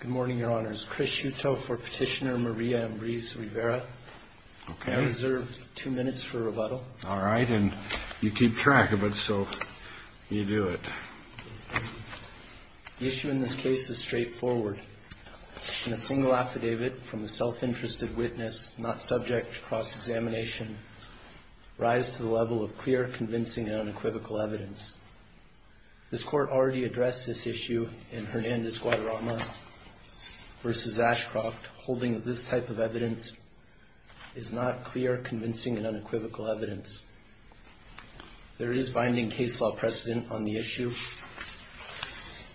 Good morning, Your Honors. Chris Shuto for Petitioner Maria Ambriz-Rivera. I reserve two minutes for rebuttal. All right, and you keep track of it, so you do it. The issue in this case is straightforward. In a single affidavit from a self-interested witness not subject to cross-examination, rise to the level of clear, convincing, and unequivocal evidence. This Court already addressed this issue in Hernandez-Guadarrama v. Ashcroft, holding that this type of evidence is not clear, convincing, and unequivocal evidence. There is binding case law precedent on the issue,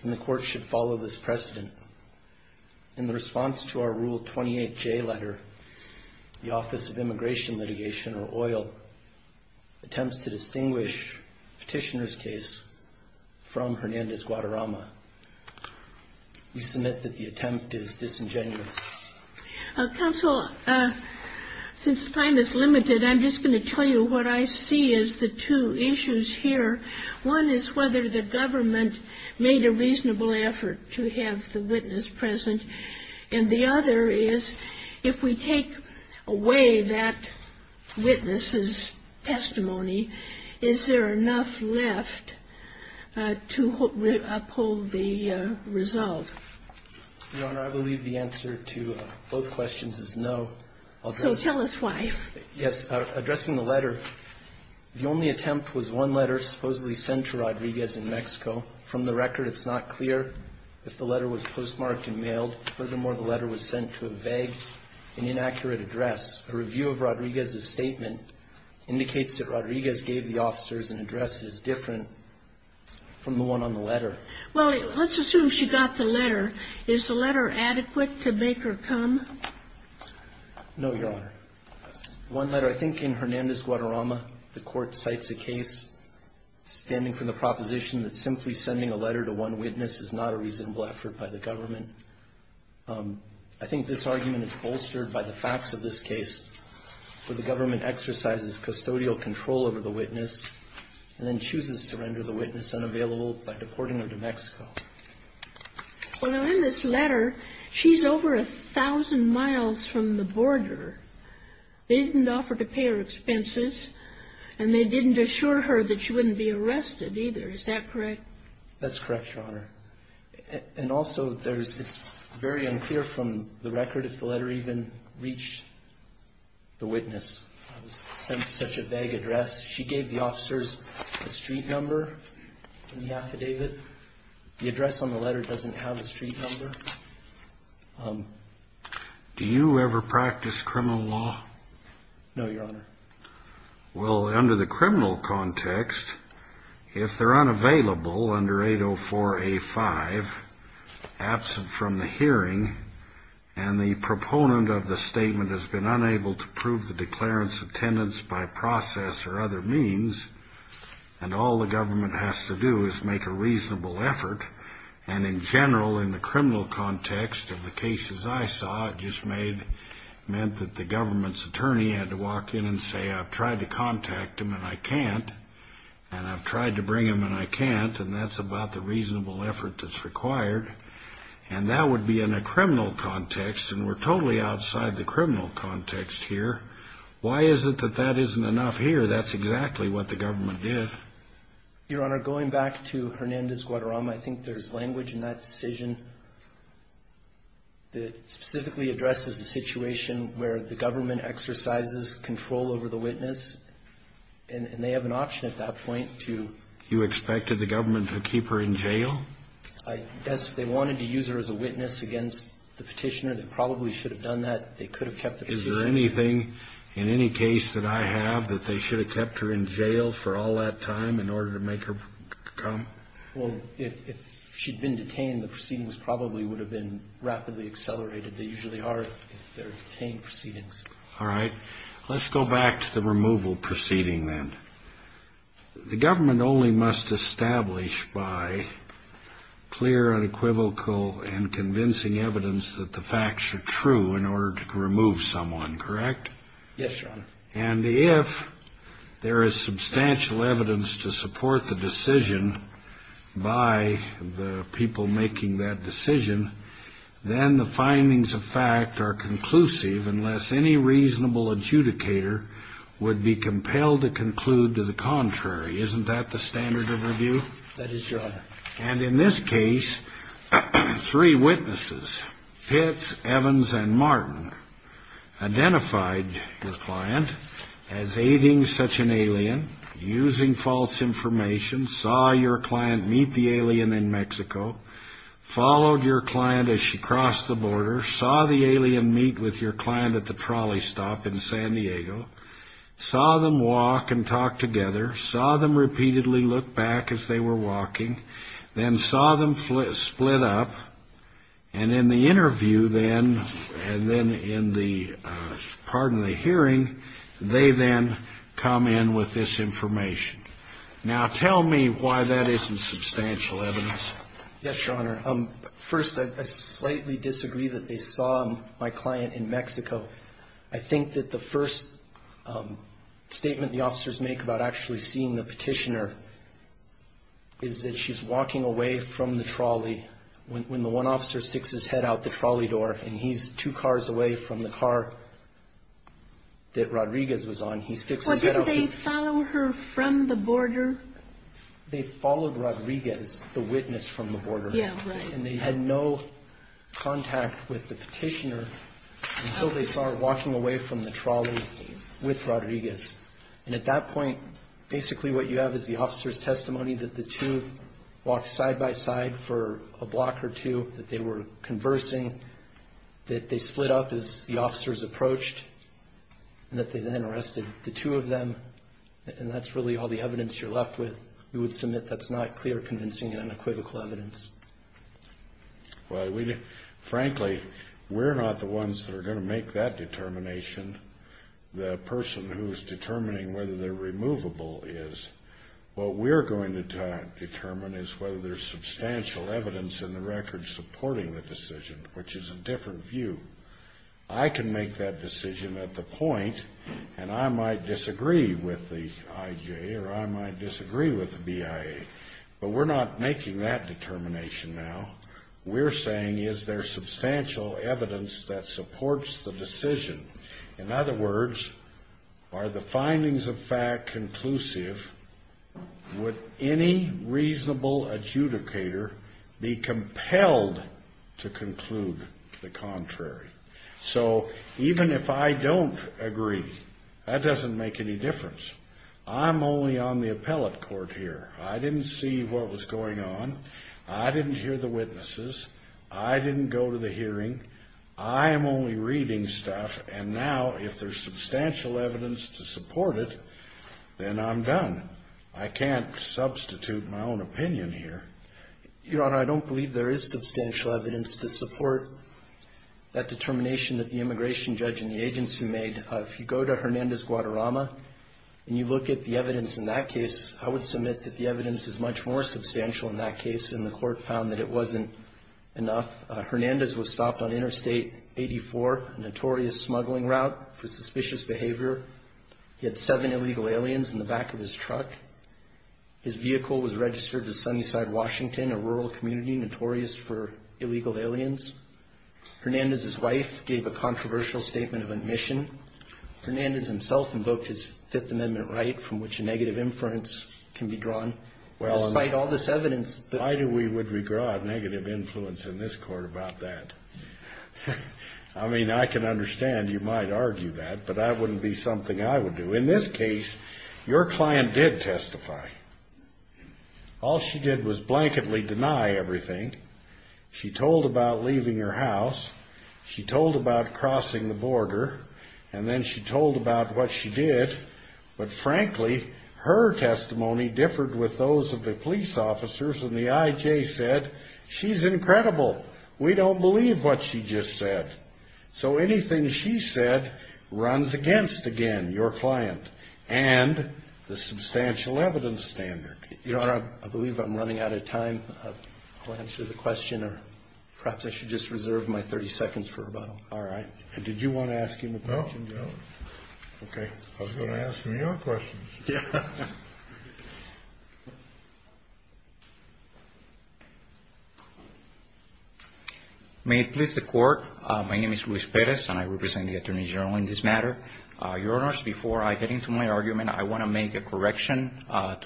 and the Court should follow this precedent. In the response to our Rule 28J letter, the Office of Immigration Litigation, or OIL, attempts to distinguish Petitioner's case from Hernandez-Guadarrama. We submit that the attempt is disingenuous. Counsel, since time is limited, I'm just going to tell you what I see as the two issues here. One is whether the government made a reasonable effort to have the witness present, and the other is if we take away that witness's testimony, is there enough left to uphold the result? Your Honor, I believe the answer to both questions is no. So tell us why. Yes. Addressing the letter, the only attempt was one letter supposedly sent to Rodriguez in Mexico. From the record, it's not clear if the letter was postmarked and mailed. Furthermore, the letter was sent to a vague and inaccurate address. A review of Rodriguez's statement indicates that Rodriguez gave the officers an address that is different from the one on the letter. Well, let's assume she got the letter. Is the letter adequate to make her come? No, Your Honor. One letter, I think in Hernandez-Guadarrama, the Court cites a case standing from the proposition that simply sending a letter to one witness is not a reasonable effort by the government. I think this argument is bolstered by the facts of this case, where the government exercises custodial control over the witness and then chooses to render the witness unavailable by deporting her to Mexico. Well, now in this letter, she's over a thousand miles from the border. They didn't offer to pay her expenses, and they didn't assure her that she wouldn't be arrested either. Is that correct? That's correct, Your Honor. And also, it's very unclear from the record if the letter even reached the witness. It was sent to such a vague address. She gave the officers a street number in the affidavit. The address on the letter doesn't have a street number. Do you ever practice criminal law? No, Your Honor. Well, under the criminal context, if they're unavailable under 804A5, absent from the hearing, and the proponent of the statement has been unable to prove the declarance of tenants by process or other means, and all the government has to do is make a reasonable effort, and in general, in the criminal context of the cases I saw, it just meant that the government's attorney had to walk in and say, I've tried to contact them and I can't, and I've tried to bring them and I can't, and that's about the reasonable effort that's required. And that would be in a criminal context, and we're totally outside the criminal context here. Why is it that that isn't enough here? That's exactly what the government did. Your Honor, going back to Hernandez-Guadarrama, I think there's language in that decision that specifically addresses the situation where the government exercises control over the witness, and they have an option at that point to You expected the government to keep her in jail? I guess they wanted to use her as a witness against the petitioner. They probably should have done that. They could have kept her. Is there anything in any case that I have that they should have kept her in jail for all that time in order to make her come? Well, if she'd been detained, the proceedings probably would have been rapidly accelerated. They usually are if they're detained proceedings. All right. Let's go back to the removal proceeding then. The government only must establish by clear and equivocal and convincing evidence that the facts are true in order to remove someone, correct? Yes, Your Honor. And if there is substantial evidence to support the decision by the people making that decision, then the findings of fact are conclusive unless any reasonable adjudicator would be compelled to conclude to the contrary. Isn't that the standard of review? That is, Your Honor. And in this case, three witnesses, Pitts, Evans, and Martin, identified the client as aiding such an alien, using false information, saw your client meet the alien in Mexico, followed your client as she crossed the border, saw the alien meet with your client at the trolley stop in San Diego, saw them walk and talk together, saw them repeatedly look back as they were walking, then saw them split up, and in the interview then, and then in the, pardon the hearing, they then come in with this information. Now, tell me why that isn't substantial evidence. Yes, Your Honor. First, I slightly disagree that they saw my client in Mexico. I think that the first statement the officers make about actually seeing the when the one officer sticks his head out the trolley door and he's two cars away from the car that Rodriguez was on, he sticks his head out. Well, didn't they follow her from the border? They followed Rodriguez, the witness from the border. Yeah, right. And they had no contact with the Petitioner until they saw her walking away from the trolley with Rodriguez. And at that point, basically what you have is the officer's testimony that the two walked side by side for a block or two, that they were conversing, that they split up as the officers approached, and that they then arrested the two of them. And that's really all the evidence you're left with. We would submit that's not clear, convincing, and unequivocal evidence. Well, frankly, we're not the ones that are going to make that determination. The person who's determining whether they're removable is. What we're going to determine is whether there's substantial evidence in the record supporting the decision, which is a different view. I can make that decision at the point, and I might disagree with the IJ, or I might disagree with the BIA. But we're not making that determination now. We're saying is there substantial evidence that supports the decision? In other words, are the findings of fact conclusive? Would any reasonable adjudicator be compelled to conclude the contrary? So even if I don't agree, that doesn't make any difference. I'm only on the appellate court here. I didn't see what was going on. I didn't hear the witnesses. I didn't go to the hearing. I am only reading stuff. And now if there's substantial evidence to support it, then I'm done. I can't substitute my own opinion here. Your Honor, I don't believe there is substantial evidence to support that determination that the immigration judge and the agency made. If you go to Hernandez-Guadarrama and you look at the evidence in that case, I would submit that the evidence is much more substantial in that case, and the court found that it wasn't enough. Hernandez was stopped on Interstate 84, a notorious smuggling route for suspicious behavior. He had seven illegal aliens in the back of his truck. His vehicle was registered to Sunnyside, Washington, a rural community notorious for illegal aliens. Hernandez's wife gave a controversial statement of admission. Hernandez himself invoked his Fifth Amendment right from which a negative inference can be drawn. Despite all this evidence. Why do we regard negative influence in this court about that? I mean, I can understand you might argue that, but that wouldn't be something I would do. In this case, your client did testify. All she did was blanketly deny everything. She told about leaving her house. She told about crossing the border. And then she told about what she did. But frankly, her testimony differed with those of the police officers. And the I.J. said, she's incredible. We don't believe what she just said. So anything she said runs against, again, your client and the substantial evidence standard. Your Honor, I believe I'm running out of time to answer the question, or perhaps I should just reserve my 30 seconds for about all right. Did you want to ask him a question? No. Okay. I was going to ask him your questions. Yeah. May it please the Court. My name is Luis Perez, and I represent the Attorney General in this matter. Your Honors, before I get into my argument, I want to make a correction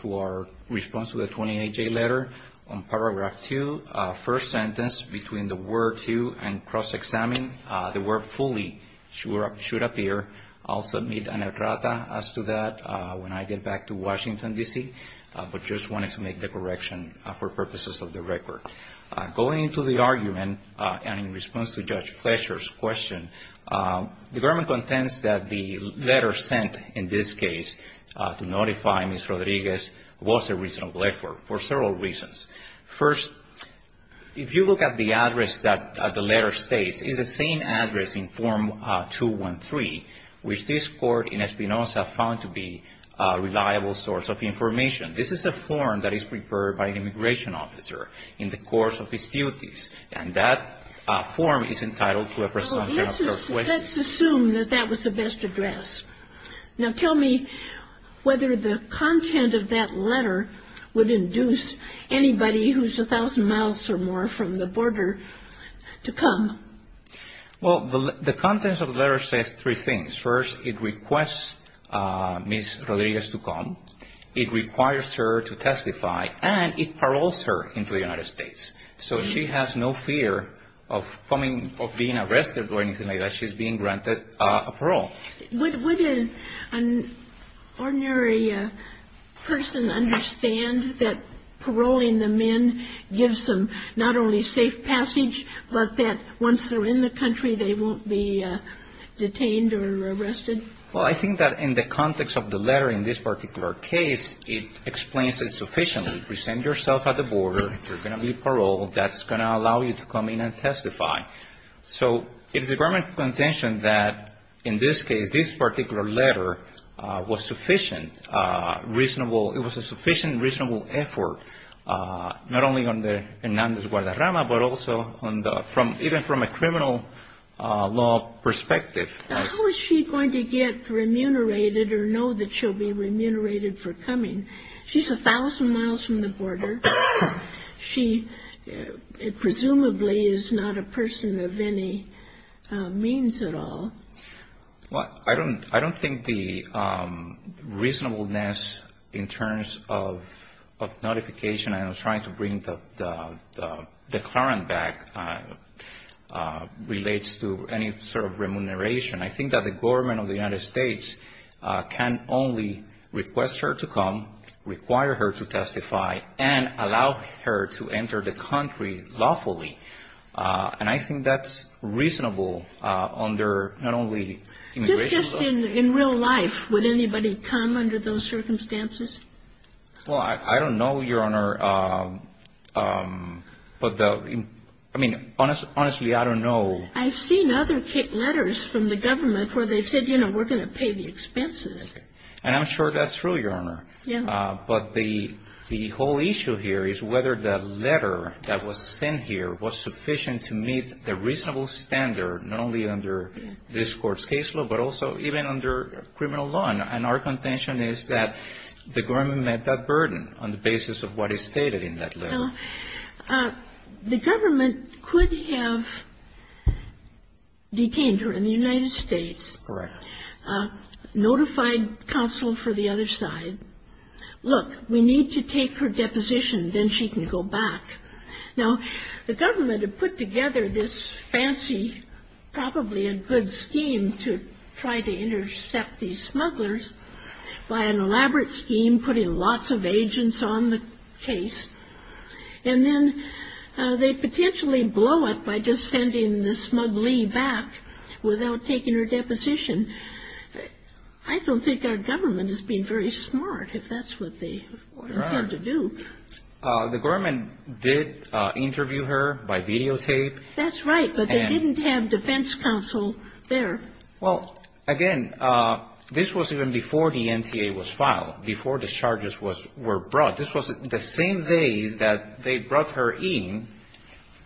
to our response to the 28-J letter on paragraph 2, first sentence between the word to and cross-examine. The word fully should appear. I'll submit an errata as to that when I get back to Washington, D.C., but just wanted to make the correction for purposes of the record. Going into the argument and in response to Judge Fletcher's question, the government contends that the letter sent in this case to notify Ms. Rodriguez was a reasonable effort for several reasons. First, if you look at the address that the letter states, it's the same address in Form 213, which this Court in Espinoza found to be a reliable source of information. This is a form that is prepared by an immigration officer in the course of his duties, and that form is entitled to a presumption of certainty. Let's assume that that was the best address. Now, tell me whether the content of that letter would induce anybody who's a thousand miles or more from the border to come. Well, the content of the letter says three things. First, it requests Ms. Rodriguez to come, it requires her to testify, and it paroles her into the United States. So she has no fear of being arrested or anything like that. She's being granted a parole. Would an ordinary person understand that paroling the men gives them not only safe passage, but that once they're in the country, they won't be detained or arrested? Well, I think that in the context of the letter in this particular case, it explains it sufficiently. Present yourself at the border, you're going to be paroled, that's going to allow you to come in and testify. So it is the government's contention that in this case, this particular letter was sufficient, reasonable. It was a sufficient, reasonable effort, not only on the Hernandez-Guadarrama, but also even from a criminal law perspective. How is she going to get remunerated or know that she'll be remunerated for coming? She's a thousand miles from the border. She presumably is not a person of any means at all. Well, I don't think the reasonableness in terms of notification and trying to bring the clarence back relates to any sort of remuneration. I think that the government of the United States can only request her to come, require her to testify, and allow her to enter the country lawfully. And I think that's reasonable under not only immigration law. Just in real life, would anybody come under those circumstances? Well, I don't know, Your Honor. But the – I mean, honestly, I don't know. I've seen other letters from the government where they've said, you know, we're going to pay the expenses. And I'm sure that's true, Your Honor. Yeah. But the whole issue here is whether the letter that was sent here was sufficient to meet the reasonable standard, not only under this Court's case law, but also even under criminal law. And our contention is that the government met that burden on the basis of what is stated in that letter. The government could have detained her in the United States. Correct. Notified counsel for the other side. Look, we need to take her deposition, then she can go back. Now, the government had put together this fancy, probably a good scheme, to try to intercept these smugglers by an elaborate scheme, putting lots of agents on the case. And then they potentially blow it by just sending the smugglee back without taking her deposition. I don't think our government has been very smart if that's what they intend to do. The government did interview her by videotape. That's right. But they didn't have defense counsel there. Well, again, this was even before the NTA was filed, before the charges were brought. This was the same day that they brought her in,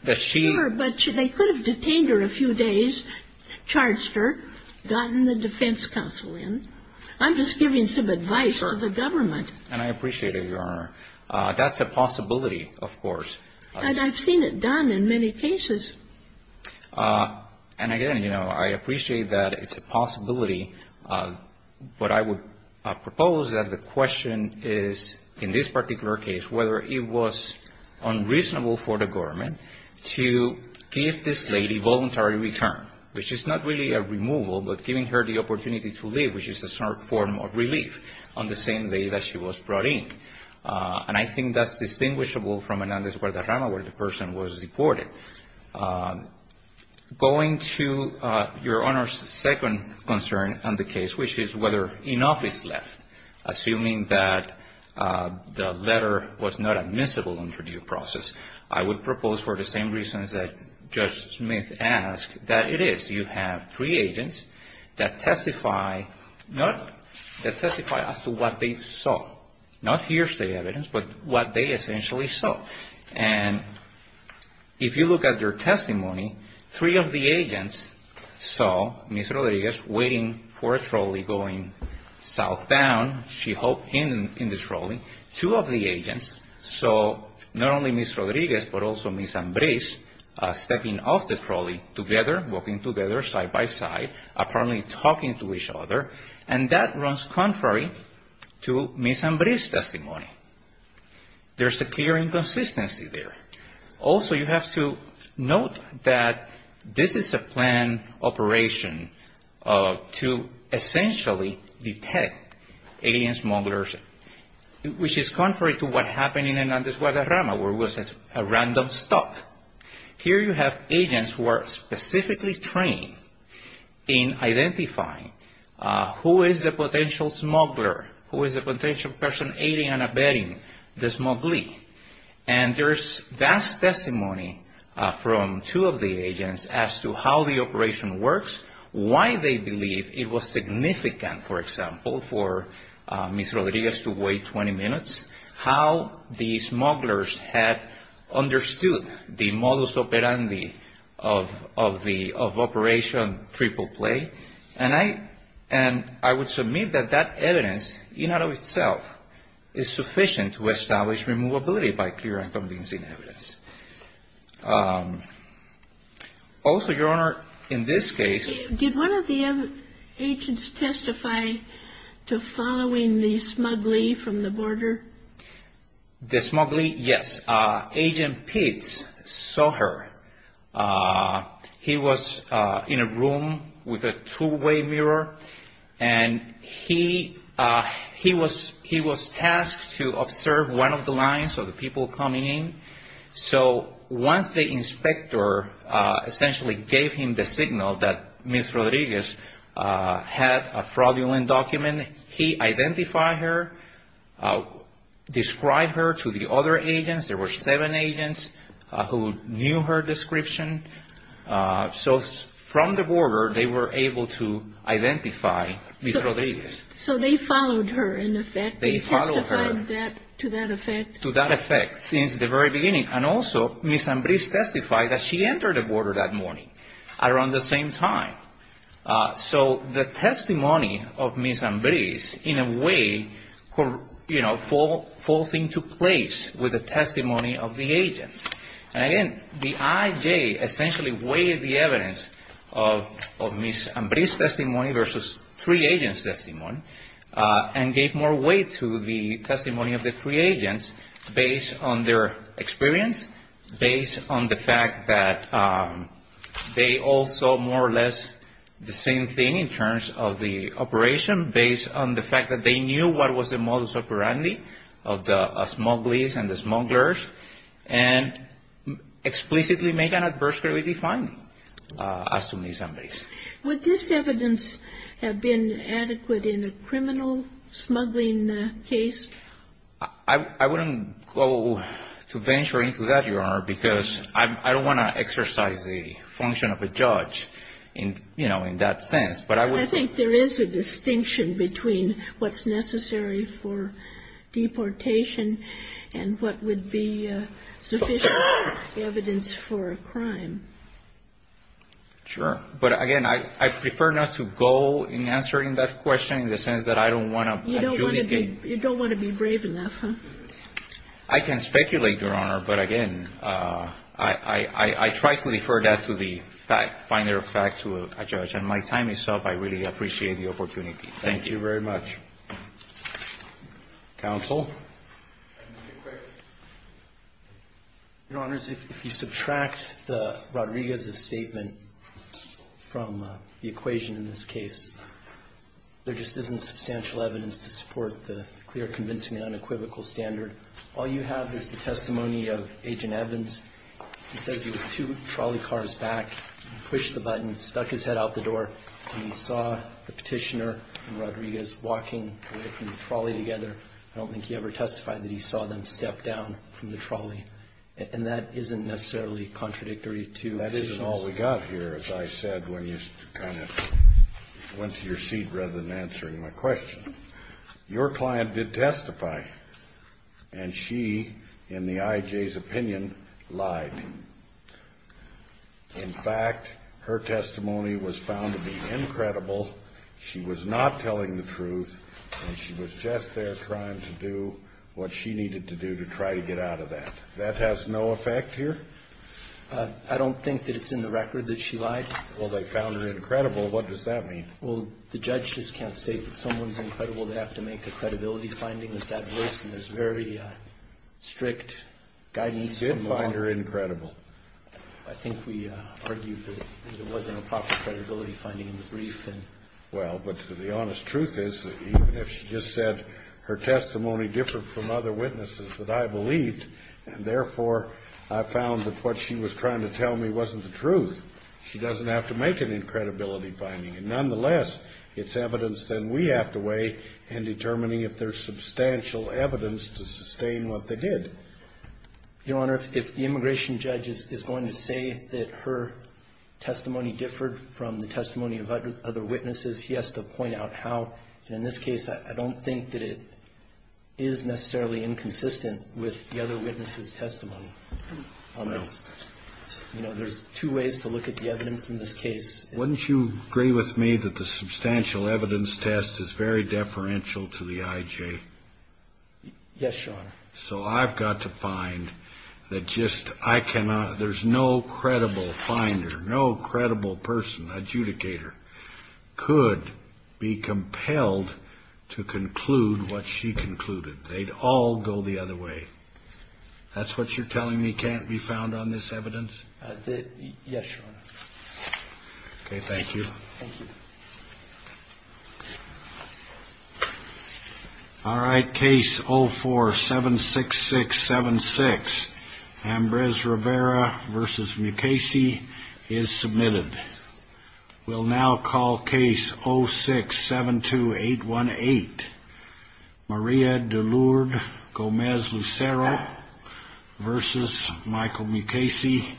that she — Sure, but they could have detained her a few days, charged her, gotten the defense counsel in. I'm just giving some advice to the government. And I appreciate it, Your Honor. That's a possibility, of course. And I've seen it done in many cases. And again, you know, I appreciate that it's a possibility. But I would propose that the question is, in this particular case, whether it was unreasonable for the government to give this lady voluntary return, which is not really a removal, but giving her the opportunity to live, which is a sort of form of relief on the same day that she was brought in. And I think that's distinguishable from an Andes Guadarrama where the person was deported. Going to Your Honor's second concern on the case, which is whether enough is left, assuming that the letter was not admissible under due process, I would propose for the same reasons that Judge Smith asked, that it is. You have three agents that testify not — that testify as to what they saw, not hearsay evidence, but what they essentially saw. And if you look at their testimony, three of the agents saw Ms. Rodriguez waiting for a trolley going southbound. She hoped in the trolley. Two of the agents saw not only Ms. Rodriguez, but also Ms. Ambriz stepping off the trolley together, walking together side by side, apparently talking to each other. There's a clear inconsistency there. Also, you have to note that this is a planned operation to essentially detect alien smugglers, which is contrary to what happened in an Andes Guadarrama, where it was a random stop. Here you have agents who are specifically trained in identifying who is the potential smuggler, who is the potential person aiding and abetting this smuggling. And there's vast testimony from two of the agents as to how the operation works, why they believe it was significant, for example, for Ms. Rodriguez to wait 20 minutes, how these smugglers had understood the modus operandi of the — of Operation Triple Play. And I would submit that that evidence, in and of itself, is sufficient to establish removability by clear and convincing evidence. Also, Your Honor, in this case — Did one of the agents testify to following the smuggler from the border? The smuggler, yes. Agent Pitts saw her. He was in a room with a two-way mirror, and he was tasked to observe one of the lines of the people coming in. So once the inspector essentially gave him the signal that Ms. Rodriguez had a fraudulent document, he identified her, described her to the other agents. There were seven agents who knew her description. So from the border, they were able to identify Ms. Rodriguez. So they followed her, in effect? They followed her. They testified to that effect? To that effect, since the very beginning. And also, Ms. Ambriz testified that she entered the border that morning around the same time. So the testimony of Ms. Ambriz, in a way, you know, falls into place with the testimony of the agents. And again, the I.J. essentially weighed the evidence of Ms. Ambriz's testimony versus three agents' testimony and gave more weight to the testimony of the three agents based on their experience, based on the fact that they all saw more or less the same thing in terms of the operation, based on the fact that they knew what was the modus operandi of the smugglers and the smugglers and explicitly made an adversarially defined as to Ms. Ambriz. Would this evidence have been adequate in a criminal smuggling case? I wouldn't go to venture into that, Your Honor, because I don't want to exercise the function of a judge in, you know, in that sense. But I would think there is a distinction between what's necessary for deportation and what would be sufficient evidence for a crime. Sure. But again, I prefer not to go in answering that question in the sense that I don't want to adjudicate. You don't want to be brave enough, huh? I can speculate, Your Honor. But again, I try to defer that to the finer fact to a judge. And my time is up. I really appreciate the opportunity. Thank you very much. Counsel? Your Honors, if you subtract Rodriguez's statement from the equation in this case, there just isn't substantial evidence to support the clear, convincing and unequivocal standard. All you have is the testimony of Agent Evans. He says he was two trolley cars back. He pushed the button, stuck his head out the door. He saw the Petitioner and Rodriguez walking away from the trolley together. I don't think he ever testified that he saw them step down from the trolley. And that isn't necessarily contradictory to Petitioner's. I got here, as I said, when you kind of went to your seat rather than answering my question. Your client did testify. And she, in the I.J.'s opinion, lied. In fact, her testimony was found to be incredible. She was not telling the truth. And she was just there trying to do what she needed to do to try to get out of that. That has no effect here? I don't think that it's in the record that she lied. Well, they found her incredible. What does that mean? Well, the judge just can't state that someone's incredible. They have to make a credibility finding. There's that voice, and there's very strict guidance. She did find her incredible. I think we argued that it wasn't a proper credibility finding in the brief. Well, but the honest truth is that even if she just said her testimony differed from other witnesses that I believed, and therefore, I found that what she was trying to tell me wasn't the truth, she doesn't have to make an incredibility finding. And nonetheless, it's evidence that we have to weigh in determining if there's substantial evidence to sustain what they did. Your Honor, if the immigration judge is going to say that her testimony differed from the testimony of other witnesses, he has to point out how. And in this case, I don't think that it is necessarily inconsistent with the other witnesses' testimony on this. You know, there's two ways to look at the evidence in this case. Wouldn't you agree with me that the substantial evidence test is very deferential to the IJ? Yes, Your Honor. So I've got to find that just I cannot – there's no credible finder, no credible person, adjudicator, could be compelled to conclude what she concluded. They'd all go the other way. That's what you're telling me can't be found on this evidence? Yes, Your Honor. Okay, thank you. Thank you. All right, case 0476676, Ambrose Rivera v. Mukasey, is submitted. We'll now call case 0672818, Maria DeLourde Gomez Lucero v. Michael Mukasey.